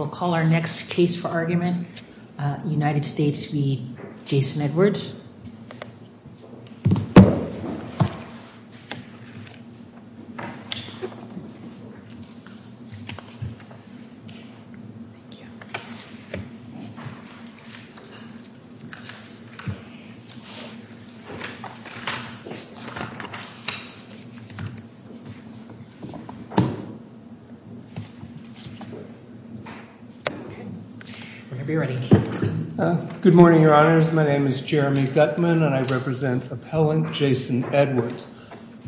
We will call our next case for argument, United States v. Jason Edwards. Whenever you're ready. Good morning, Your Honors. My name is Jeremy Gutman, and I represent appellant Jason Edwards.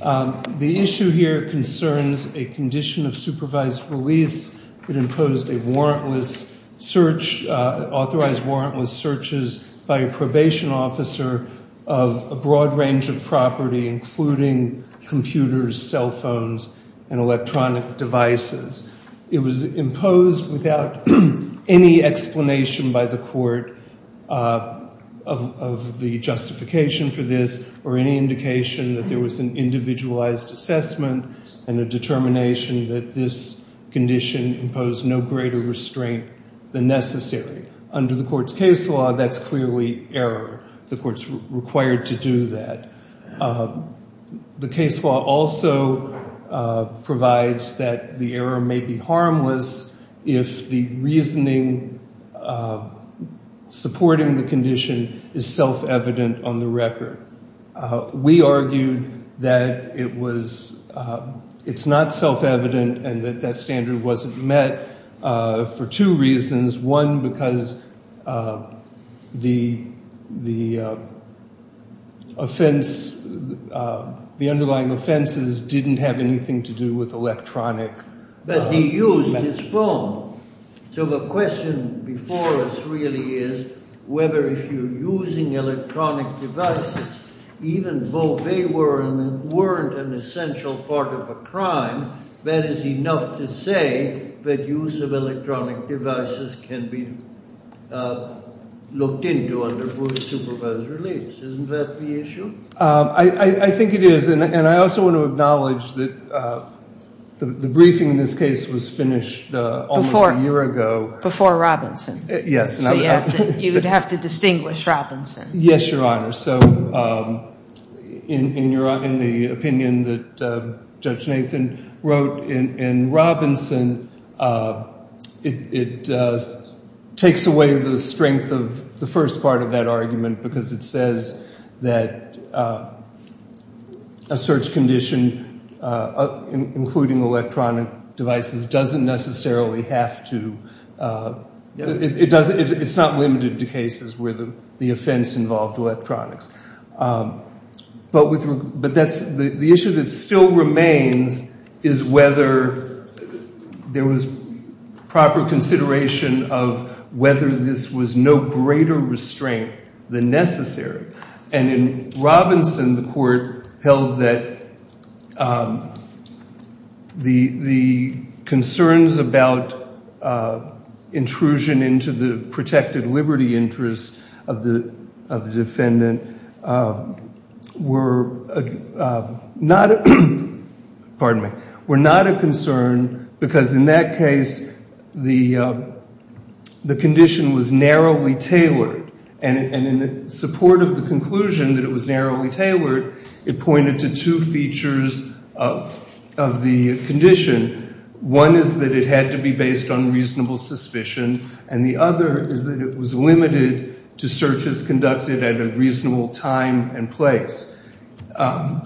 The issue here concerns a condition of supervised release that imposed a warrantless search, authorized warrantless searches, by a probation officer of a broad range of property, including computers, cell phones, and electronic devices. It was imposed without any explanation by the court of the justification for this, or any indication that there was an individualized assessment and a determination that this condition imposed no greater restraint than necessary. Under the court's case law, that's clearly error. The court's required to do that. The case law also provides that the error may be harmless if the reasoning supporting the condition is self-evident on the record. We argued that it's not self-evident and that that standard wasn't met for two reasons. One, because the underlying offenses didn't have anything to do with electronic— But he used his phone. So the question before us really is whether if you're using electronic devices, even though they weren't an essential part of a crime, that is enough to say that use of electronic devices can be looked into under court-supervised release. Isn't that the issue? I think it is, and I also want to acknowledge that the briefing in this case was finished almost a year ago. Before Robinson. Yes. So you would have to distinguish Robinson. Yes, Your Honor. So in the opinion that Judge Nathan wrote in Robinson, it takes away the strength of the first part of that argument because it says that a search condition, including electronic devices, doesn't necessarily have to— It's not limited to cases where the offense involved electronics. But the issue that still remains is whether there was proper consideration of whether this was no greater restraint than necessary. And in Robinson, the court held that the concerns about intrusion into the protected liberty interest of the defendant were not a concern because in that case, the condition was narrowly tailored. And in support of the conclusion that it was narrowly tailored, it pointed to two features of the condition. One is that it had to be based on reasonable suspicion, and the other is that it was limited to searches conducted at a reasonable time and place.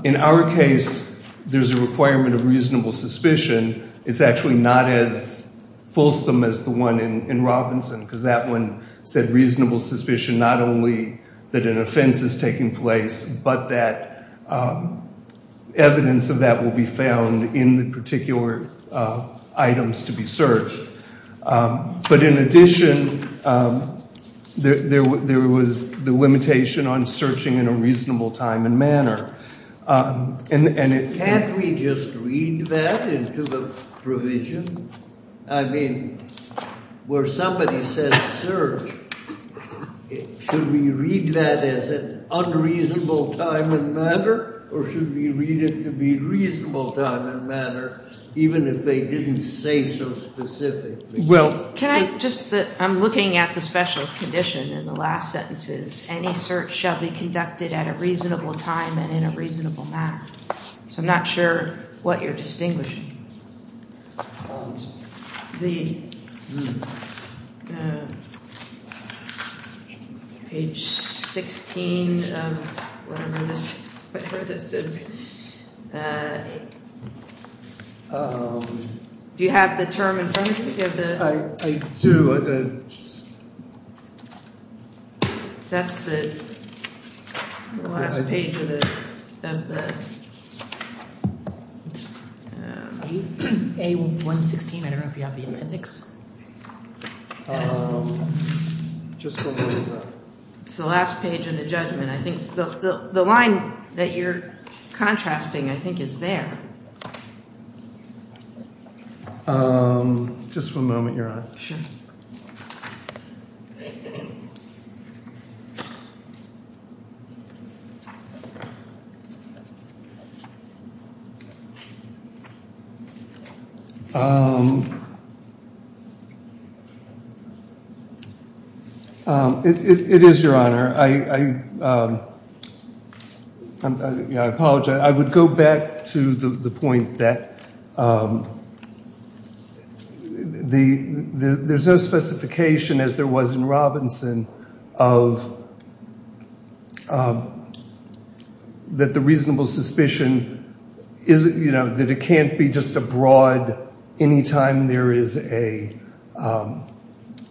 In our case, there's a requirement of reasonable suspicion. It's actually not as fulsome as the one in Robinson because that one said reasonable suspicion not only that an offense is taking place, but that evidence of that will be found in the particular items to be searched. But in addition, there was the limitation on searching in a reasonable time and manner. Can't we just read that into the provision? I mean, where somebody says search, should we read that as an unreasonable time and manner, or should we read it to be reasonable time and manner even if they didn't say so specifically? Well, can I just – I'm looking at the special condition in the last sentences. Any search shall be conducted at a reasonable time and in a reasonable manner. So I'm not sure what you're distinguishing. Page 16 of whatever this is. Do you have the term in front of you? I do. Go ahead. That's the last page of the – A116, I don't know if you have the appendix. It's the last page of the judgment. I think the line that you're contrasting, I think, is there. Just one moment, Your Honor. Sure. It is, Your Honor. I apologize. I would go back to the point that there's no specification, as there was in Robinson, of – that the reasonable suspicion is – that it can't be just a broad – any time there is a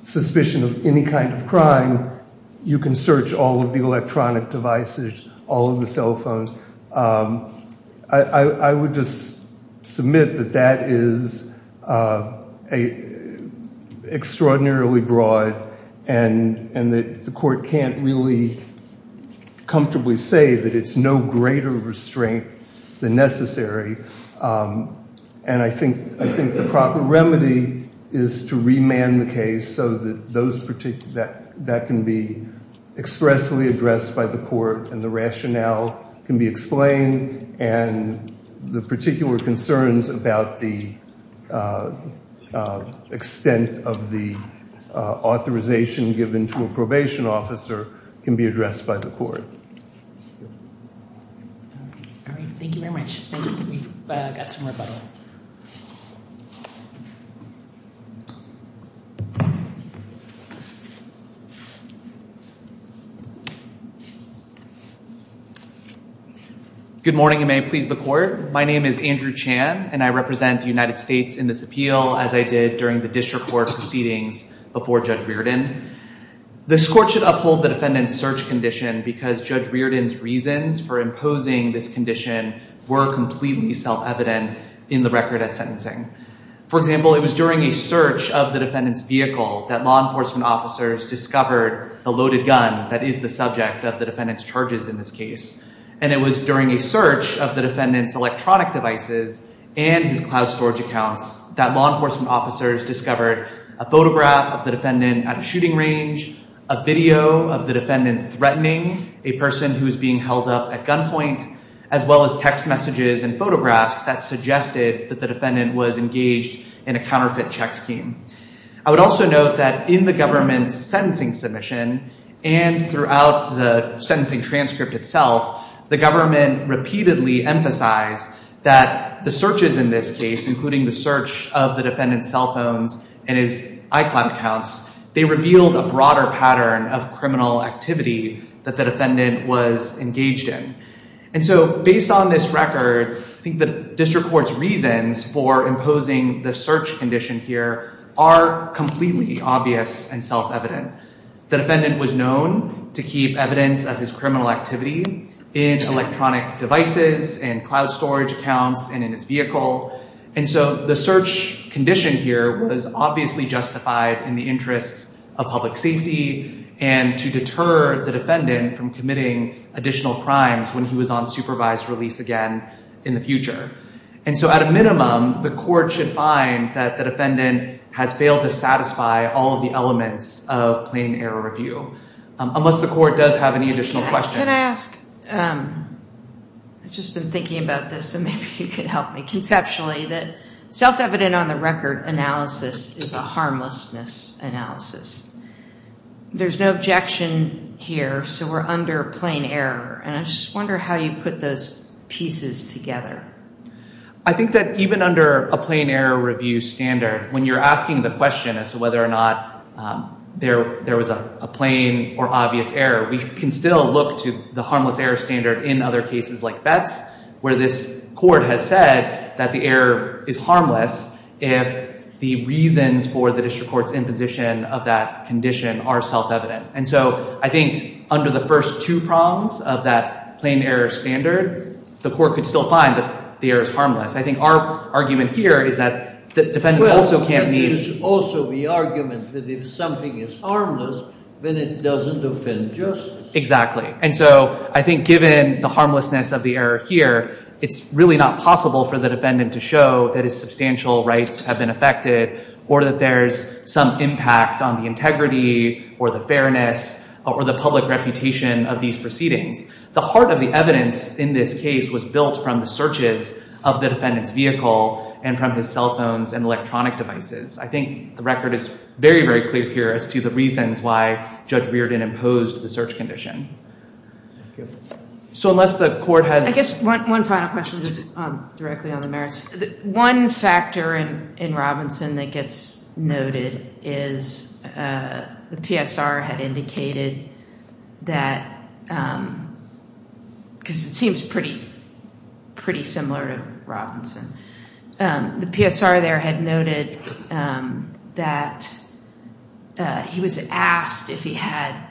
suspicion of any kind of crime, you can search all of the electronic devices, all of the cell phones. I would just submit that that is extraordinarily broad and that the court can't really comfortably say that it's no greater restraint than necessary. And I think the proper remedy is to remand the case so that that can be expressly addressed by the court and the rationale can be explained and the particular concerns about the extent of the authorization given to a probation officer can be addressed by the court. All right. Thank you very much. Thank you. We've got some rebuttal. Good morning and may it please the court. My name is Andrew Chan and I represent the United States in this appeal as I did during the district court proceedings before Judge Reardon. This court should uphold the defendant's search condition because Judge Reardon's reasons for imposing this condition were completely self-evident in the record at sentencing. For example, it was during a search of the defendant's vehicle that law enforcement officers discovered the loaded gun that is the subject of the defendant's charges in this case. And it was during a search of the defendant's electronic devices and his cloud storage accounts that law enforcement officers discovered a photograph of the defendant at a shooting range, a video of the defendant threatening a person who was being held up at gunpoint, as well as text messages and photographs that suggested that the defendant was engaged in a counterfeit check scheme. I would also note that in the government's sentencing submission and throughout the sentencing transcript itself, the government repeatedly emphasized that the searches in this case, including the search of the defendant's cell phones and his iCloud accounts, they revealed a broader pattern of criminal activity that the defendant was engaged in. And so based on this record, I think the district court's reasons for imposing the search condition here are completely obvious and self-evident. The defendant was known to keep evidence of his criminal activity in electronic devices and cloud storage accounts and in his vehicle. And so the search condition here was obviously justified in the interests of public safety and to deter the defendant from committing additional crimes when he was on supervised release again in the future. And so at a minimum, the court should find that the defendant has failed to satisfy all of the elements of plain error review, unless the court does have any additional questions. Can I ask? I've just been thinking about this, so maybe you could help me. Conceptually, self-evident on the record analysis is a harmlessness analysis. There's no objection here, so we're under plain error. And I just wonder how you put those pieces together. I think that even under a plain error review standard, when you're asking the question as to whether or not there was a plain or obvious error, we can still look to the harmless error standard in other cases like Betts where this court has said that the error is harmless if the reasons for the district court's imposition of that condition are self-evident. And so I think under the first two prongs of that plain error standard, the court could still find that the error is harmless. I think our argument here is that the defendant also can't be— Well, it is also the argument that if something is harmless, then it doesn't offend justice. Exactly. And so I think given the harmlessness of the error here, it's really not possible for the defendant to show that his substantial rights have been affected or that there's some impact on the integrity or the fairness or the public reputation of these proceedings. The heart of the evidence in this case was built from the searches of the defendant's vehicle and from his cell phones and electronic devices. I think the record is very, very clear here as to the reasons why Judge Reardon imposed the search condition. So unless the court has— I guess one final question just directly on the merits. One factor in Robinson that gets noted is the PSR had indicated that— because it seems pretty similar to Robinson. The PSR there had noted that he was asked if he had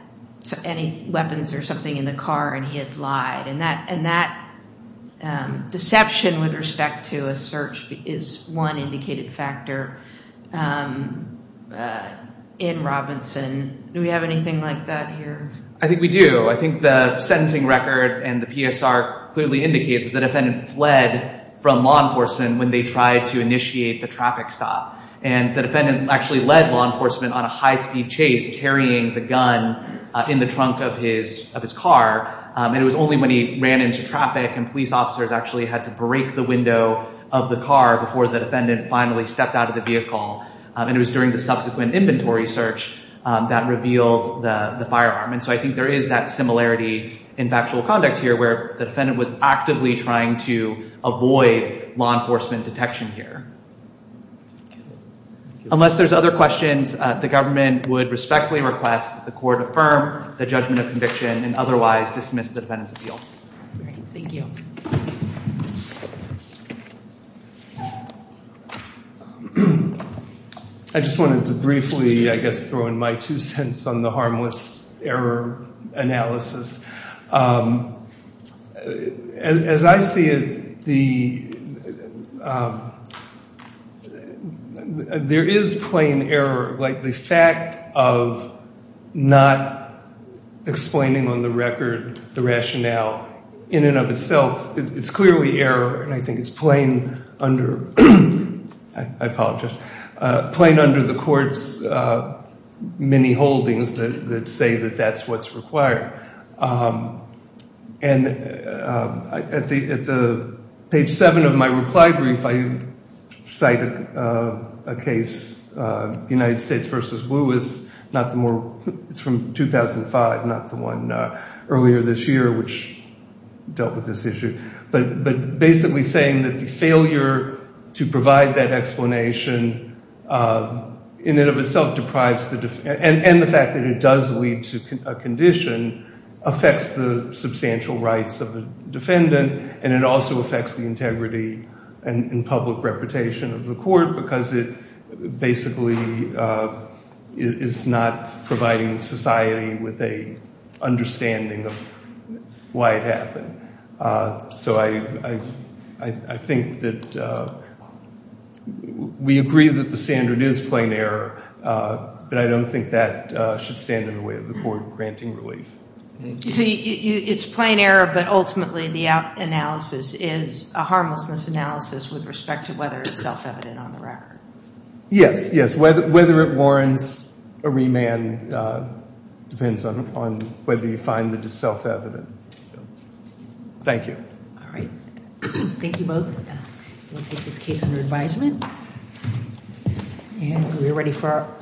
any weapons or something in the car and he had lied. And that deception with respect to a search is one indicated factor in Robinson. Do we have anything like that here? I think we do. I think the sentencing record and the PSR clearly indicate that the defendant fled from law enforcement when they tried to initiate the traffic stop. And the defendant actually led law enforcement on a high-speed chase, carrying the gun in the trunk of his car. And it was only when he ran into traffic and police officers actually had to break the window of the car before the defendant finally stepped out of the vehicle. And it was during the subsequent inventory search that revealed the firearm. And so I think there is that similarity in factual conduct here where the defendant was actively trying to avoid law enforcement detection here. Unless there's other questions, the government would respectfully request the court affirm the judgment of conviction and otherwise dismiss the defendant's appeal. Thank you. I just wanted to briefly, I guess, throw in my two cents on the harmless error analysis. As I see it, there is plain error, like the fact of not explaining on the record the rationale in and of itself. It's clearly error, and I think it's plain under the court's many holdings that say that that's what's required. And at the page 7 of my reply brief, I cite a case, United States v. Lewis. It's from 2005, not the one earlier this year, which dealt with this issue. But basically saying that the failure to provide that explanation in and of itself deprives the defendant and the fact that it does lead to a condition affects the substantial rights of the defendant, and it also affects the integrity and public reputation of the court because it basically is not providing society with an understanding of why it happened. So I think that we agree that the standard is plain error, but I don't think that should stand in the way of the court granting relief. It's plain error, but ultimately the analysis is a harmlessness analysis with respect to whether it's self-evident on the record. Yes, yes, whether it warrants a remand depends on whether you find that it's self-evident. Thank you. All right. Thank you both. We'll take this case under advisement. And we're ready for our closing.